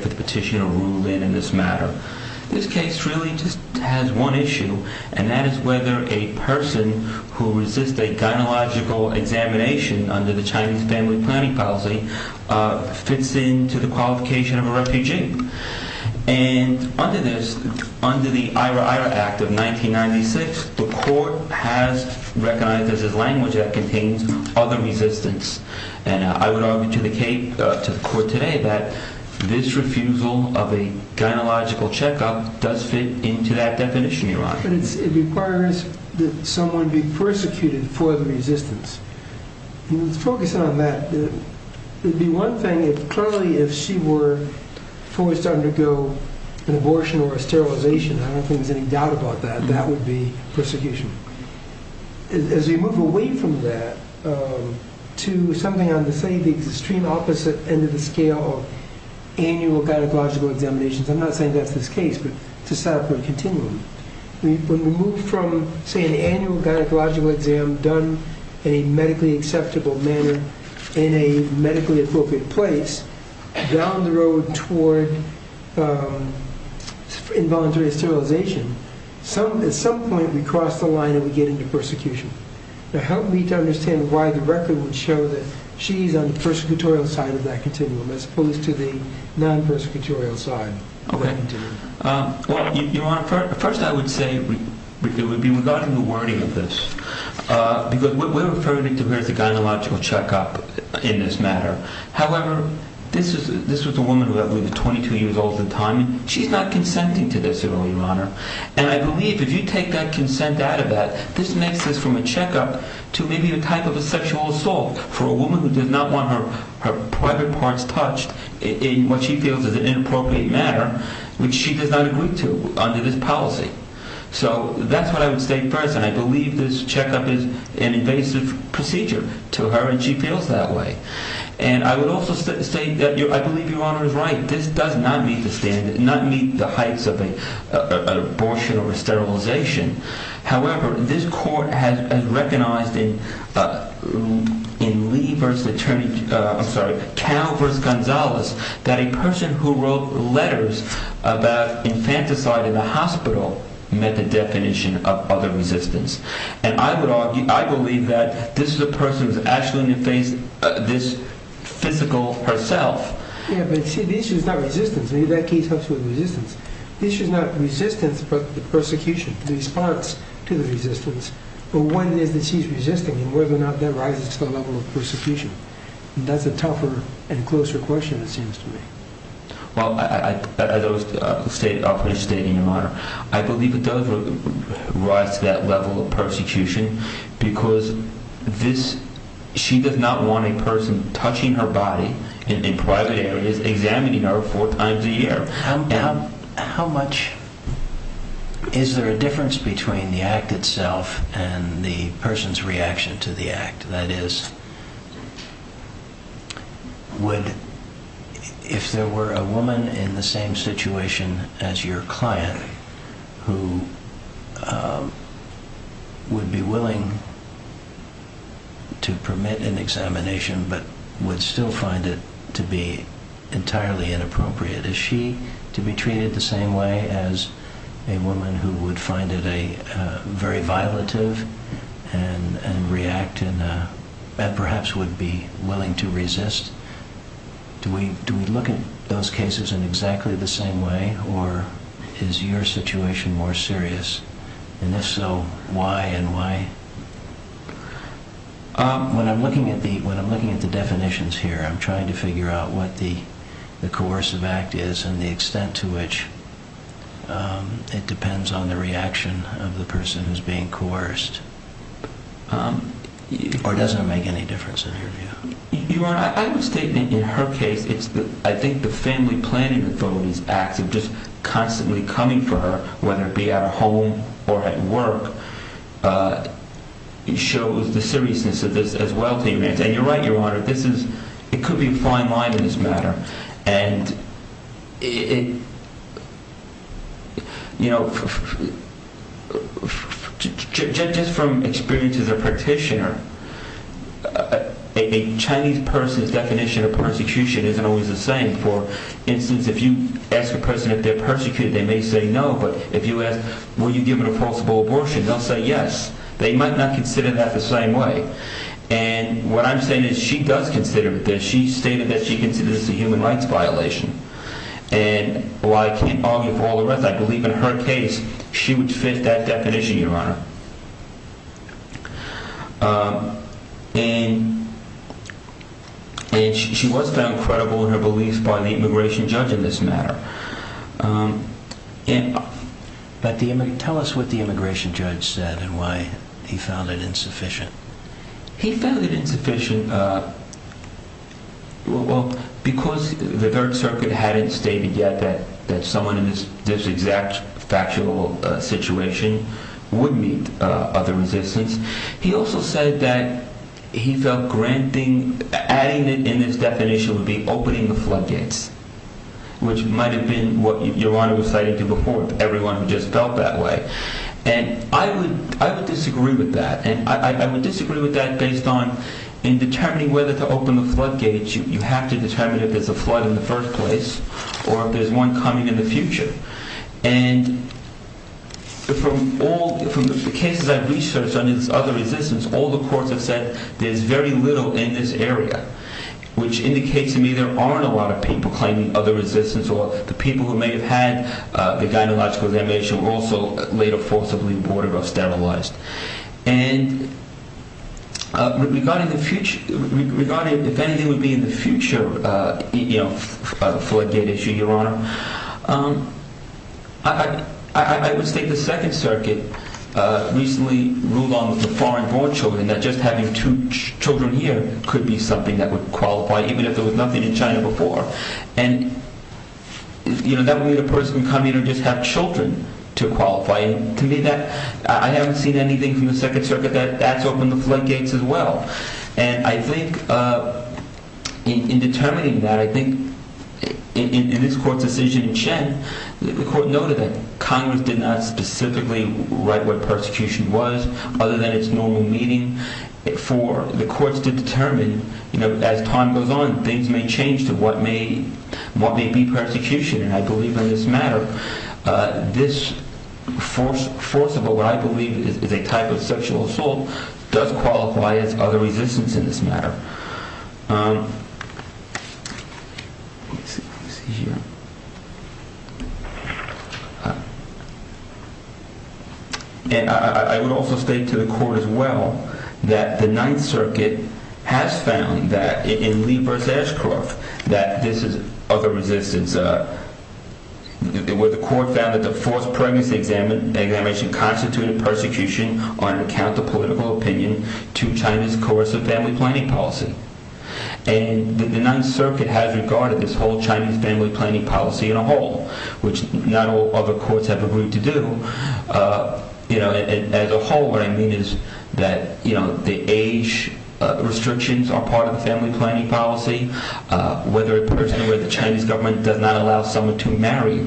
for the petitioner ruled in in this matter. This case really just has one issue, and that is whether a person who resists a gynecological examination under the Chinese family planning policy fits in to the qualification of a refugee. And under this, under the IRA Act of 1996, the court has recognized this as language that contains other resistance. And I would argue to the court today that this refusal of a gynecological checkup does fit into that definition, Your Honor. But it requires that someone be persecuted for the resistance. Let's focus on that. The one thing, clearly, if she were forced to undergo an abortion or a sterilization, I don't think there's any doubt about that, that would be persecution. As we move away from that to something on the extreme opposite end of the scale of annual gynecological examinations, I'm not saying that's the case, but to set up a continuum, when we move from, say, an annual gynecological exam done in a medically acceptable manner in a medically appropriate place, down the road toward involuntary sterilization, at some point, we cross the line and we get into persecution. Now, help me to understand why the record would show that she's on the persecutorial side of that continuum, as opposed to the non-persecutorial side of that continuum. Well, Your Honor, first I would say it would be regarding the wording of this. Because we're referring to her as a gynecological checkup in this matter. However, this was a woman who had lived 22 years all the time. She's not consenting to this, Your Honor. And I believe if you take that consent out of that, this makes this from a checkup to maybe a type of a sexual assault for a woman who does not want her private parts touched in what she feels is an inappropriate matter, which she does not agree to under this policy. So, that's what I would state first, and I believe this checkup is an invasive procedure to her, and she feels that way. And I would also state, I believe Your Honor is right, this does not meet the standard, not meet the heights of an abortion or a sterilization. However, this court has recognized in Cal v. Gonzalez that a person who wrote letters about infanticide in the hospital met the definition of other resistance. And I would argue, I believe that this is a person who has actually faced this physical herself. Yeah, but see, the issue is not resistance. Maybe that case helps with resistance. The issue is not resistance, but the persecution, the response to the resistance. But one is that she's resisting, and whether or not that rises to the level of persecution. And that's a tougher and closer question, it seems to me. Well, as I was stating, Your Honor, I believe it does rise to that level of persecution, because she does not want a person touching her body in private areas, examining her four times a year. Is there a difference between the act itself and the person's reaction to the act? That is, if there were a woman in the same situation as your client who would be willing to permit an examination but would still find it to be entirely inappropriate, to be treated the same way as a woman who would find it very violative and react and perhaps would be willing to resist, do we look at those cases in exactly the same way, or is your situation more serious? And if so, why and why? When I'm looking at the definitions here, I'm trying to figure out what the coercive act is and the extent to which it depends on the reaction of the person who's being coerced. Or does it make any difference in your view? Your Honor, I would state that in her case, I think the family planning authority's acts of just constantly coming for her, whether it be at home or at work, shows the seriousness of this as well. And you're right, Your Honor, it could be a fine line in this matter. And, you know, just from experience as a practitioner, a Chinese person's definition of persecution isn't always the same. For instance, if you ask a person if they're persecuted, they may say no, but if you ask, were you given a forcible abortion, they'll say yes. They might not consider that the same way. And what I'm saying is she does consider this. She stated that she considers this a human rights violation. And while I can't argue for all the rest, I believe in her case, she would fit that definition, Your Honor. And she was found credible in her beliefs by the immigration judge in this matter. But tell us what the immigration judge said and why he found it insufficient. He found it insufficient, well, because the Third Circuit hadn't stated yet that someone in this exact factual situation would meet other resistance. He also said that he felt granting, adding it in his definition would be opening the floodgates, which might have been what Your Honor was citing to everyone who just felt that way. And I would disagree with that. And I would disagree with that based on in determining whether to open the floodgates, you have to determine if there's a flood in the first place or if there's one coming in the future. And from all the cases I've researched on this other resistance, all the courts have said there's very little in this area, which indicates to me there aren't a lot of people claiming other resistance or the people who may have had the gynecological examination were also later forcibly aborted or sterilized. And regarding the future, regarding if anything would be in the future floodgate issue, Your Honor, I would state the Second Circuit recently ruled on the foreign-born children that just having two children here could be something that would qualify, even if there was nothing in China before. And, you know, that would mean a person could come in and just have children to qualify. And to me that, I haven't seen anything from the Second Circuit that that's opened the floodgates as well. And I think in determining that, I think in this court's decision in Chen, the court noted that Congress did not specifically write what persecution was other than its normal meaning for the courts to determine, you know, as time goes on, things may change to what may be persecution. And I believe in this matter, this forcible, what I believe is a type of sexual assault does qualify as other resistance in this matter. And I would also state to the court as well that the Ninth Circuit has found that in Lee v. Ashcroft that this is other resistance, where the court found that the forced pregnancy examination constituted persecution on account of political opinion to China's coercive family planning policy. And the Ninth Circuit has regarded this whole Chinese family planning policy in a whole, which not all other courts have agreed to do. You know, as a whole, what I mean is that, you know, the age restrictions are part of the family planning policy. Whether a person where the Chinese government does not allow someone to marry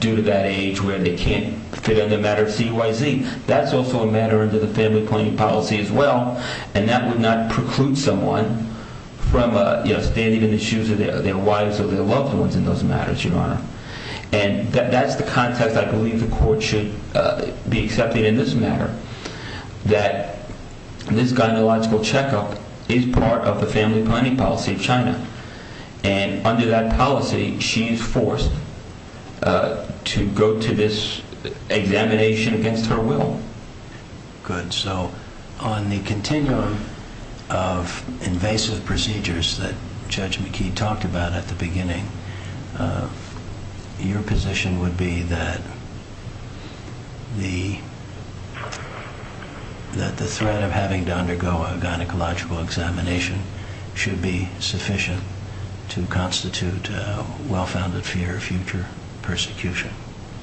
due to that age where they can't fit on the matter of CYZ, that's also a matter under the family planning policy as well. And that would not preclude someone from, you know, standing in the shoes of their wives or their loved ones in those matters, Your Honor. And that's the context I believe the court should be accepting in this matter, that this gynecological checkup is part of the family planning policy of China. And under that policy, she is forced to go to this examination against her will. Good. So on the continuum of invasive procedures that Judge McKee talked about at the beginning, your position would be that the threat of having to undergo a gynecological examination should be sufficient to constitute well-founded fear of future persecution.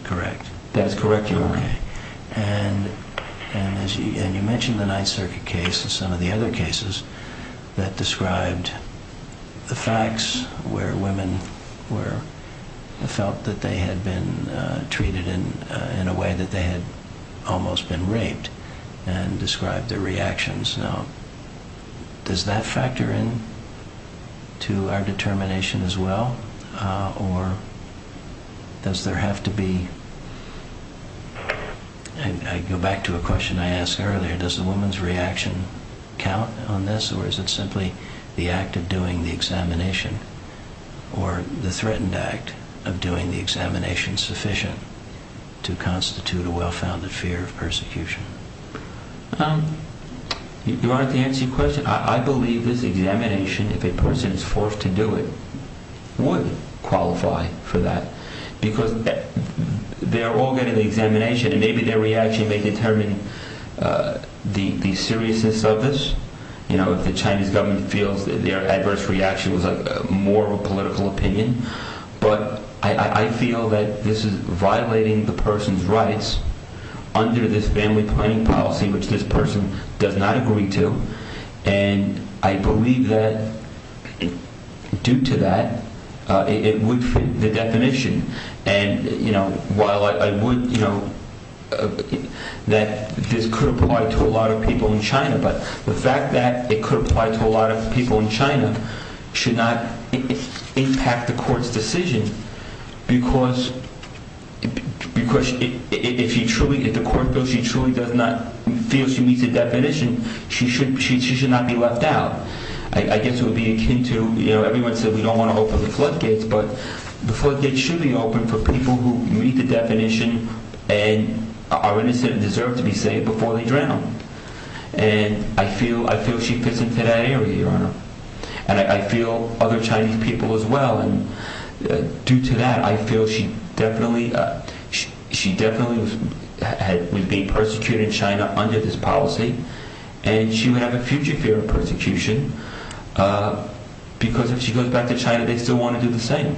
Correct? That is correct, Your Honor. And you mentioned the Ninth Circuit case and some of the other cases that described the facts where women felt that they had been treated in a way that they had almost been raped and described their reactions. Now, does that factor in to our determination as well, or does there have to be… I go back to a question I asked earlier. Does the woman's reaction count on this, or is it simply the act of doing the examination or the threatened act of doing the examination sufficient to constitute a well-founded fear of persecution? Your Honor, to answer your question, I believe this examination, if a person is forced to do it, would qualify for that because they are all getting the examination and maybe their reaction may determine the seriousness of this. You know, if the Chinese government feels that their adverse reaction was more of a political opinion, but I feel that this is violating the person's rights under this family planning policy, which this person does not agree to, and I believe that due to that, it would fit the definition. And, you know, while I would, you know, that this could apply to a lot of people in China, but the fact that it could apply to a lot of people in China should not impact the court's decision because if the court feels she truly does not feel she meets the definition, she should not be left out. I guess it would be akin to, you know, everyone said we don't want to open the floodgates, but the floodgates should be open for people who meet the definition and are innocent and deserve to be saved before they drown. And I feel she fits into that area, Your Honor. And I feel other Chinese people as well. And due to that, I feel she definitely would be persecuted in China under this policy and she would have a future fear of persecution because if she goes back to China, they still want to do the same.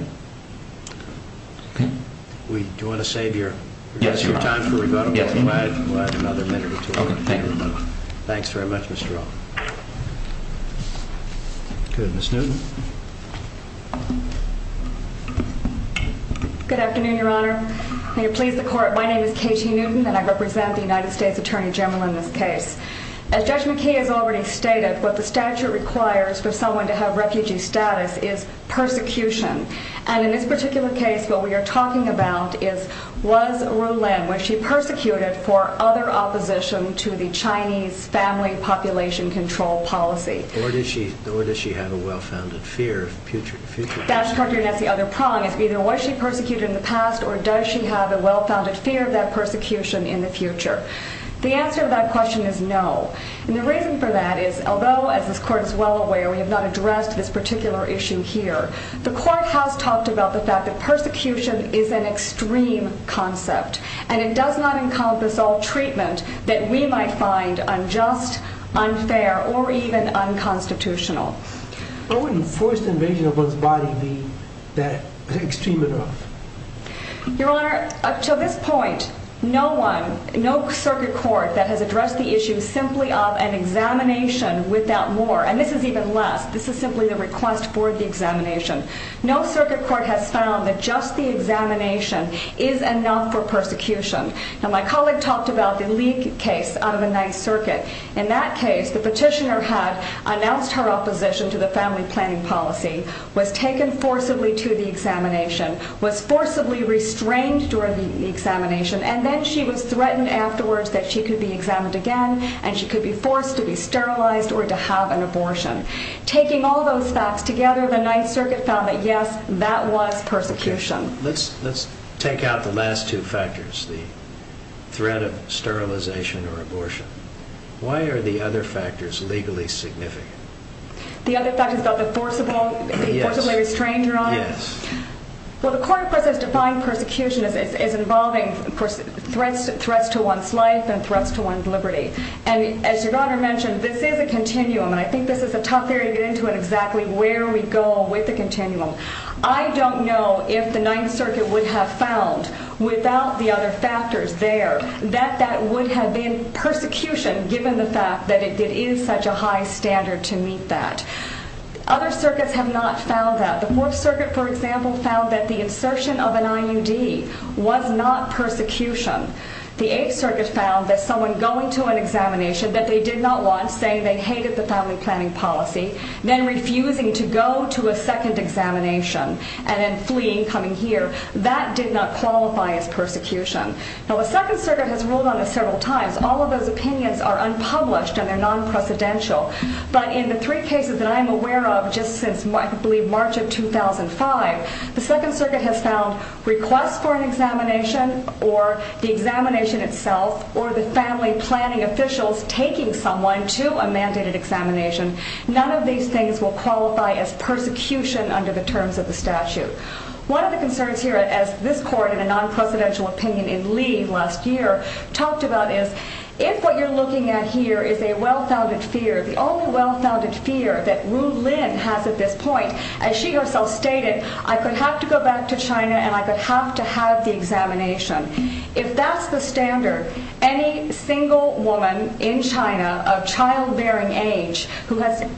Do you want to save your time for rebuttal? Yes, Your Honor. We'll add another minute or two. Okay, thank you. Thanks very much, Mr. O. Good afternoon, Your Honor. May it please the court, my name is Katie Newton and I represent the United States Attorney General in this case. As Judge McKay has already stated, what the statute requires for someone to have refugee status is persecution. And in this particular case, what we are talking about is was Ruilin, was she persecuted for other opposition to the Chinese family population control policy? Or does she have a well-founded fear of future persecution? That's correct, Your Honor. That's the other prong. It's either was she persecuted in the past or does she have a well-founded fear of that persecution in the future? The answer to that question is no. And the reason for that is although, as this court is well aware, we have not addressed this particular issue here, the court has talked about the fact that persecution is an extreme concept. And it does not encompass all treatment that we might find unjust, unfair, or even unconstitutional. Why wouldn't forced invasion of one's body be that extreme enough? Your Honor, up to this point, no one, no circuit court that has addressed the issue simply of an examination without more. And this is even less. This is simply a request for the examination. No circuit court has found that just the examination is enough for persecution. Now my colleague talked about the Lee case out of the Ninth Circuit. In that case, the petitioner had announced her opposition to the family planning policy, was taken forcibly to the examination, was forcibly restrained during the examination, and then she was threatened afterwards that she could be examined again and she could be forced to be sterilized or to have an abortion. Taking all those facts together, the Ninth Circuit found that, yes, that was persecution. Let's take out the last two factors, the threat of sterilization or abortion. Why are the other factors legally significant? The other factors about the forcibly restrained, Your Honor? Well, the court, of course, has defined persecution as involving threats to one's life and threats to one's liberty. And as Your Honor mentioned, this is a continuum, and I think this is a tough area to get into on exactly where we go with the continuum. I don't know if the Ninth Circuit would have found, without the other factors there, that that would have been persecution, given the fact that it is such a high standard to meet that. Other circuits have not found that. The Fourth Circuit, for example, found that the insertion of an IUD was not persecution. The Eighth Circuit found that someone going to an examination that they did not want, saying they hated the family planning policy, then refusing to go to a second examination and then fleeing, coming here, that did not qualify as persecution. Now, the Second Circuit has ruled on this several times. All of those opinions are unpublished and they're non-precedential. But in the three cases that I'm aware of, just since, I believe, March of 2005, the Second Circuit has found requests for an examination, or the examination itself, or the family planning officials taking someone to a mandated examination, none of these things will qualify as persecution under the terms of the statute. One of the concerns here, as this Court, in a non-precedential opinion in Lee last year, talked about is, if what you're looking at here is a well-founded fear, the only well-founded fear that Ru Lin has at this point, as she herself stated, I could have to go back to China and I could have to have the examination. If that's the standard, any single woman in China of child-bearing age who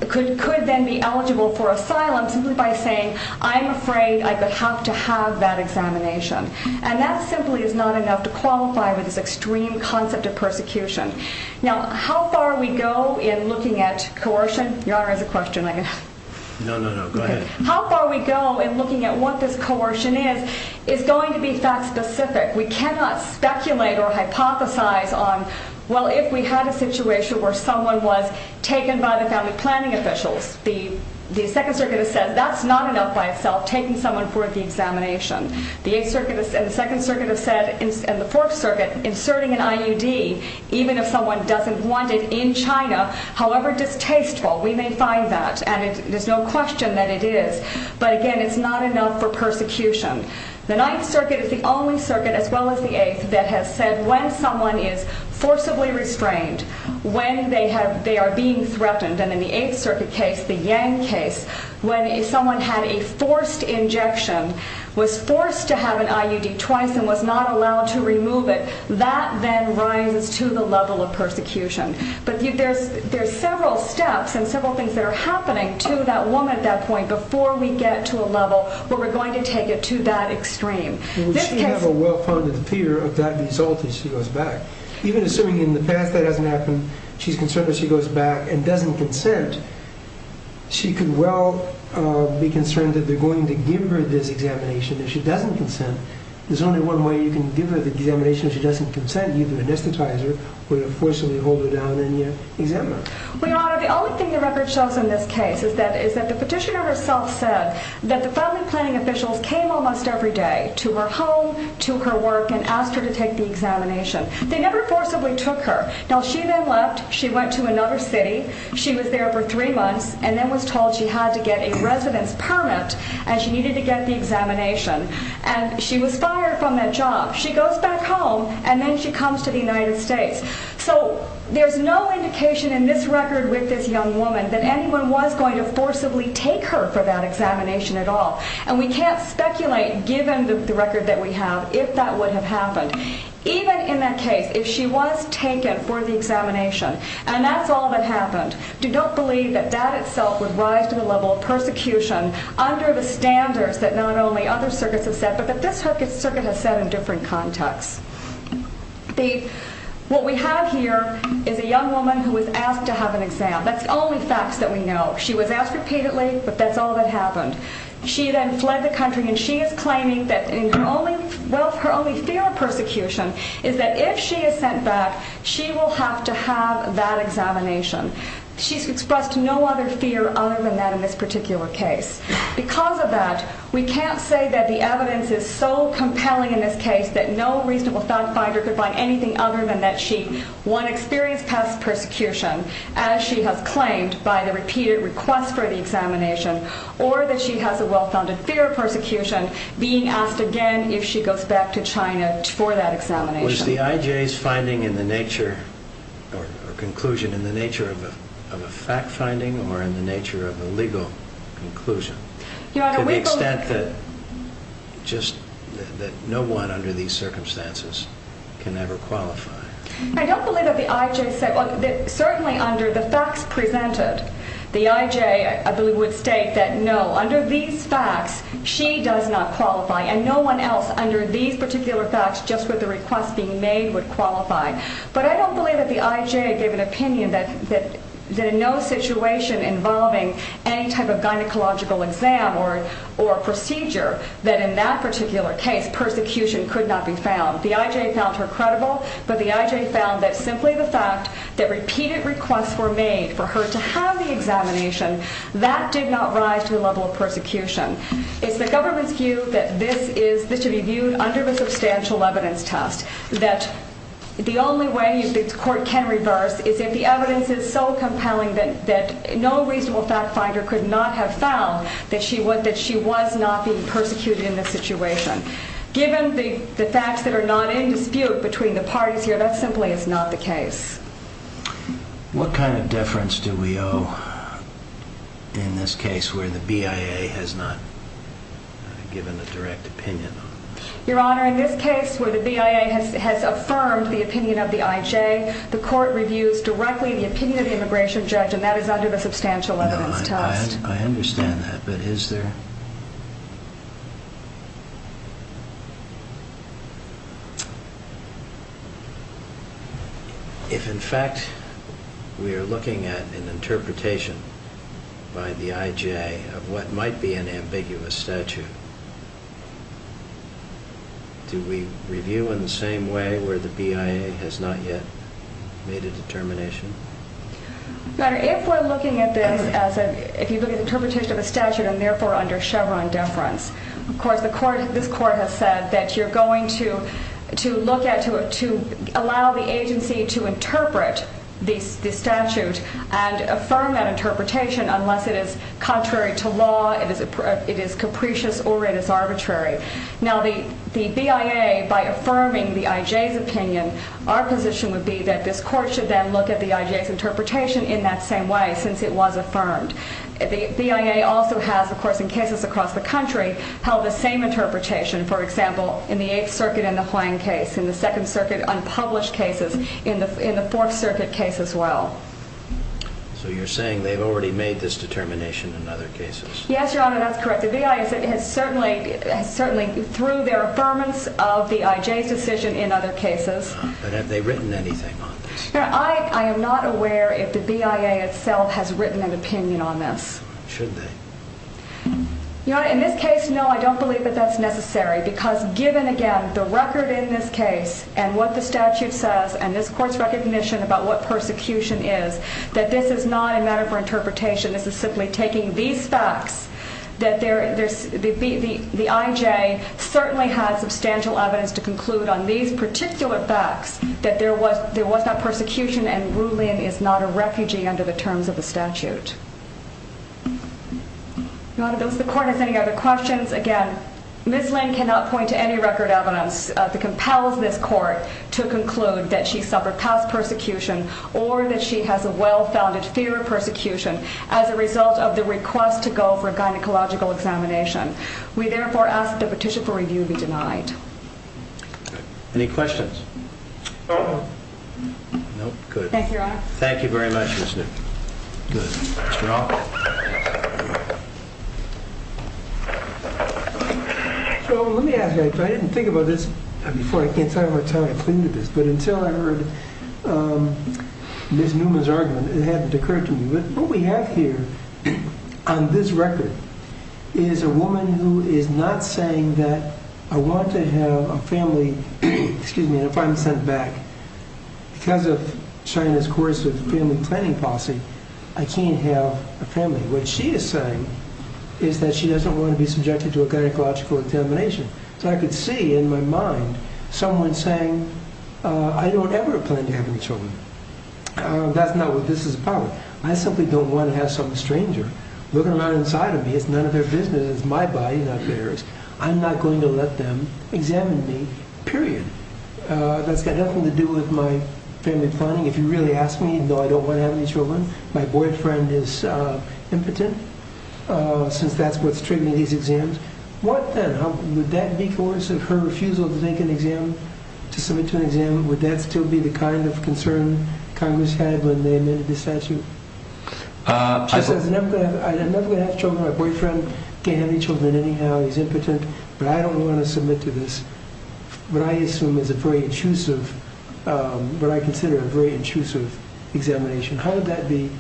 could then be eligible for asylum simply by saying, I'm afraid I would have to have that examination. And that simply is not enough to qualify with this extreme concept of persecution. Now, how far we go in looking at coercion? Your Honor, I have a question. No, no, no. Go ahead. How far we go in looking at what this coercion is, is going to be fact-specific. We cannot speculate or hypothesize on, well, if we had a situation where someone was taken by the family planning officials, the Second Circuit has said, that's not enough by itself, taking someone for the examination. The Eighth Circuit and the Second Circuit have said, and the Fourth Circuit, inserting an IUD, even if someone doesn't want it in China, however distasteful, we may find that. And there's no question that it is. But again, it's not enough for persecution. The Ninth Circuit is the only circuit, as well as the Eighth, that has said when someone is forcibly restrained, when they are being threatened, and in the Eighth Circuit case, the Yang case, when someone had a forced injection, was forced to have an IUD twice and was not allowed to remove it, that then rises to the level of persecution. But there's several steps and several things that are happening to that woman at that point before we get to a level where we're going to take it to that extreme. She has a well-founded fear of that result if she goes back. Even assuming in the past that hasn't happened, she's concerned if she goes back and doesn't consent, she could well be concerned that they're going to give her this examination. If she doesn't consent, there's only one way you can give her the examination. If she doesn't consent, either anesthetize her or forcibly hold her down and exam her. Your Honor, the only thing the record shows in this case is that the petitioner herself said that the family planning officials came almost every day to her home, to her work, and asked her to take the examination. They never forcibly took her. Now, she then left. She went to another city. She was there for three months and then was told she had to get a residence permit and she needed to get the examination. And she was fired from that job. She goes back home and then she comes to the United States. So, there's no indication in this record with this young woman that anyone was going to forcibly take her for that examination at all. And we can't speculate, given the record that we have, if that would have happened. Even in that case, if she was taken for the examination, and that's all that happened, don't believe that that itself would rise to the level of persecution under the standards that not only other circuits have set, but that this circuit has set in different contexts. What we have here is a young woman who was asked to have an exam. That's the only facts that we know. She was asked repeatedly, but that's all that happened. She then fled the country and she is claiming that her only fear of persecution is that if she is sent back, she will have to have that examination. She's expressed no other fear other than that in this particular case. Because of that, we can't say that the evidence is so compelling in this case that no reasonable fact finder could find anything other than that she, one, experienced past persecution, as she has claimed by the repeated request for the examination, or that she has a well-founded fear of persecution, being asked again if she goes back to China for that examination. Was the IJ's finding in the nature, or conclusion, in the nature of a fact finding or in the nature of a legal conclusion? To the extent that no one under these circumstances can ever qualify. I don't believe that the IJ, certainly under the facts presented, the IJ, I believe, would state that no, under these facts, she does not qualify, and no one else under these particular facts, just with the request being made, would qualify. But I don't believe that the IJ gave an opinion that in no situation involving any type of gynecological exam or procedure, that in that particular case, persecution could not be found. The IJ found her credible, but the IJ found that simply the fact that repeated requests were made for her to have the examination, that did not rise to a level of persecution. It's the government's view that this should be viewed under the substantial evidence test, that the only way the court can reverse is if the evidence is so compelling that no reasonable fact finder could not have found that she was not being persecuted in this situation. Given the facts that are not in dispute between the parties here, that simply is not the case. What kind of deference do we owe in this case where the BIA has not given a direct opinion? Your Honor, in this case where the BIA has affirmed the opinion of the IJ, the court reviews directly the opinion of the immigration judge, and that is under the substantial evidence test. I understand that, but is there... If in fact we are looking at an interpretation by the IJ of what might be an ambiguous statute, do we review in the same way where the BIA has not yet made a determination? Your Honor, if we're looking at this as an interpretation of a statute and therefore under Chevron deference, of course this court has said that you're going to allow the agency to interpret the statute and affirm that interpretation unless it is contrary to law, it is capricious, or it is arbitrary. Now the BIA, by affirming the IJ's opinion, our position would be that this court should then look at the IJ's interpretation in that same way, since it was affirmed. The BIA also has, of course in cases across the country, held the same interpretation. For example, in the 8th Circuit in the Hwang case, in the 2nd Circuit unpublished cases, in the 4th Circuit case as well. So you're saying they've already made this determination in other cases? Yes, Your Honor, that's correct. The BIA has certainly, through their affirmance of the IJ's decision in other cases. But have they written anything on this? I am not aware if the BIA itself has written an opinion on this. Should they? Your Honor, in this case, no, I don't believe that that's necessary. Because given, again, the record in this case, and what the statute says, and this court's recognition about what persecution is, that this is not a matter for interpretation, this is simply taking these facts, that the IJ certainly has substantial evidence to conclude on these particular facts, that there was not persecution and Ru Lin is not a refugee under the terms of the statute. Your Honor, does the court have any other questions? Again, Ms. Lin cannot point to any record evidence that compels this court to conclude that she suffered past persecution, or that she has a well-founded fear of persecution as a result of the request to go for a gynecological examination. We therefore ask that the petition for review be denied. Any questions? No? Good. Thank you, Your Honor. Thank you very much, Ms. Lin. Good. Mr. Offit. So let me ask you, I didn't think about this before, I can't tell you how I came to this, but until I heard Ms. Newman's argument, it hadn't occurred to me. What we have here on this record is a woman who is not saying that I want to have a family, and if I'm sent back because of China's coercive family planning policy, I can't have a family. What she is saying is that she doesn't want to be subjected to a gynecological examination. So I could see in my mind someone saying, I don't ever plan to have any children. That's not what this is about. I simply don't want to have some stranger looking around inside of me. It's none of their business. It's my body, not theirs. I'm not going to let them examine me, period. That's got nothing to do with my family planning. If you really ask me, no, I don't want to have any children. My boyfriend is impotent since that's what's triggering these exams. What then? Would that be coercive, her refusal to take an exam, to submit to an exam, would that still be the kind of concern Congress had when they amended the statute? She says, I'm never going to have children. My boyfriend can't have any children anyhow. He's impotent. But I don't want to submit to this, what I assume is a very intrusive, what I consider a very intrusive examination. How would that be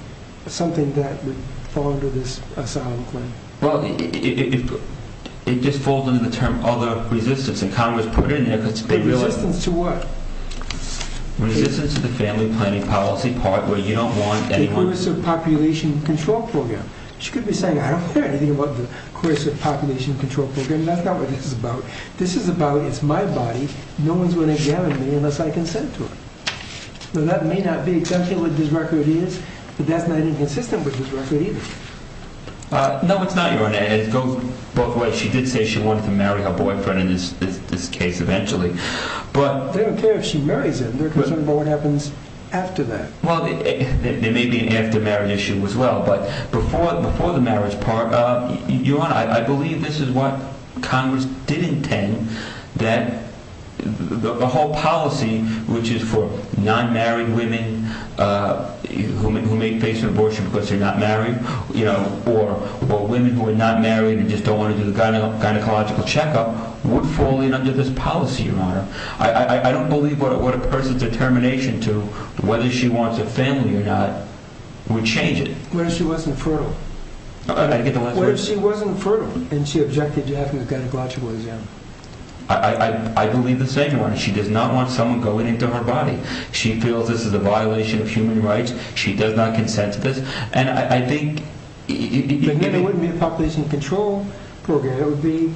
something that would fall under this asylum claim? Well, it just falls under the term other resistance. And Congress put it in there. Resistance to what? Resistance to the family planning policy part where you don't want anyone. The Coercive Population Control Program. She could be saying, I don't care anything about the Coercive Population Control Program. That's not what this is about. This is about, it's my body. No one's going to examine me unless I consent to it. Now, that may not be exactly what this record is, but that's not inconsistent with this record either. No, it's not, Your Honor. It goes both ways. She did say she wanted to marry her boyfriend in this case eventually. They don't care if she marries him. They're concerned about what happens after that. Well, there may be an after-marriage issue as well, but before the marriage part, Your Honor, I believe this is what Congress did intend that the whole policy, which is for non-married women who may face an abortion because they're not married, or women who are not married and just don't want to do the gynecological checkup, would fall in under this policy, Your Honor. I don't believe what a person's determination to whether she wants a family or not would change it. What if she wasn't fertile? I get the last word. What if she wasn't fertile and she objected to having a gynecological exam? I believe the same one. She does not want someone going into her body. She feels this is a violation of human rights. She does not consent to this. And I think... Again, it wouldn't be a Population Control Program. It would be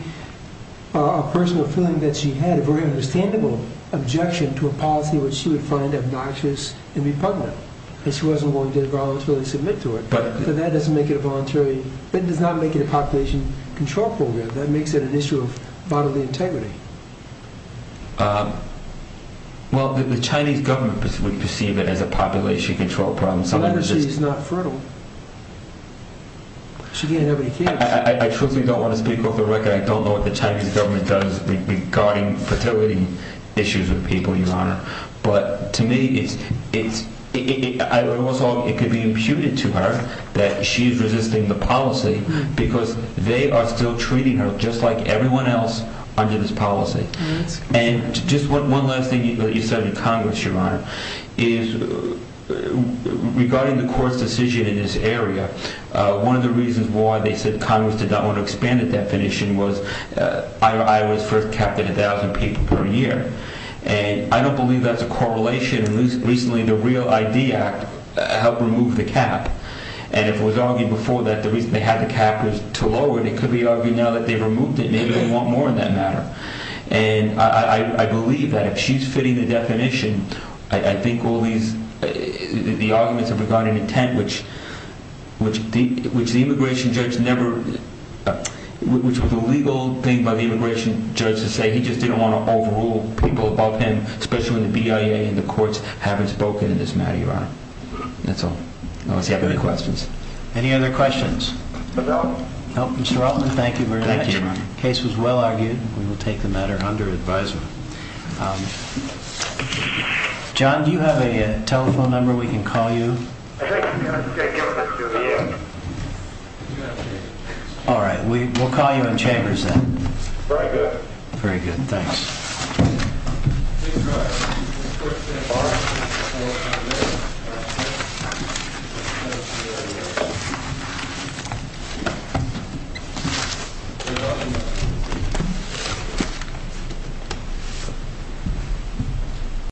a personal feeling that she had, a very understandable objection to a policy which she would find obnoxious and repugnant, and she wasn't willing to voluntarily submit to it. So that doesn't make it a voluntary... That does not make it a Population Control Program. That makes it an issue of bodily integrity. Well, the Chinese government would perceive it as a Population Control Problem. The letter says she's not fertile. She can't have any kids. I truthfully don't want to speak off the record. I don't know what the Chinese government does regarding fertility issues with people, Your Honor. But to me, it could be imputed to her that she's resisting the policy because they are still treating her just like everyone else under this policy. And just one last thing that you said in Congress, Your Honor, is regarding the court's decision in this area, one of the reasons why they said Congress did not want to expand the definition was Iowa is first capped at 1,000 people per year. And I don't believe that's a correlation. Recently, the Real ID Act helped remove the cap. And it was argued before that the reason they had the cap was to lower it. It could be argued now that they've removed it. Maybe they want more in that matter. And I believe that if she's fitting the definition, I think all these, the arguments regarding intent, which the immigration judge never, which was a legal thing by the immigration judge to say, he just didn't want to overrule people above him, especially when the BIA and the courts haven't spoken in this matter, Your Honor. That's all. Unless you have any questions. Any other questions? No, Mr. Rottman, thank you very much. The case was well argued. We will take the matter under advisement. John, do you have a telephone number we can call you? All right, we'll call you in Chambers then. Very good. Very good, thanks.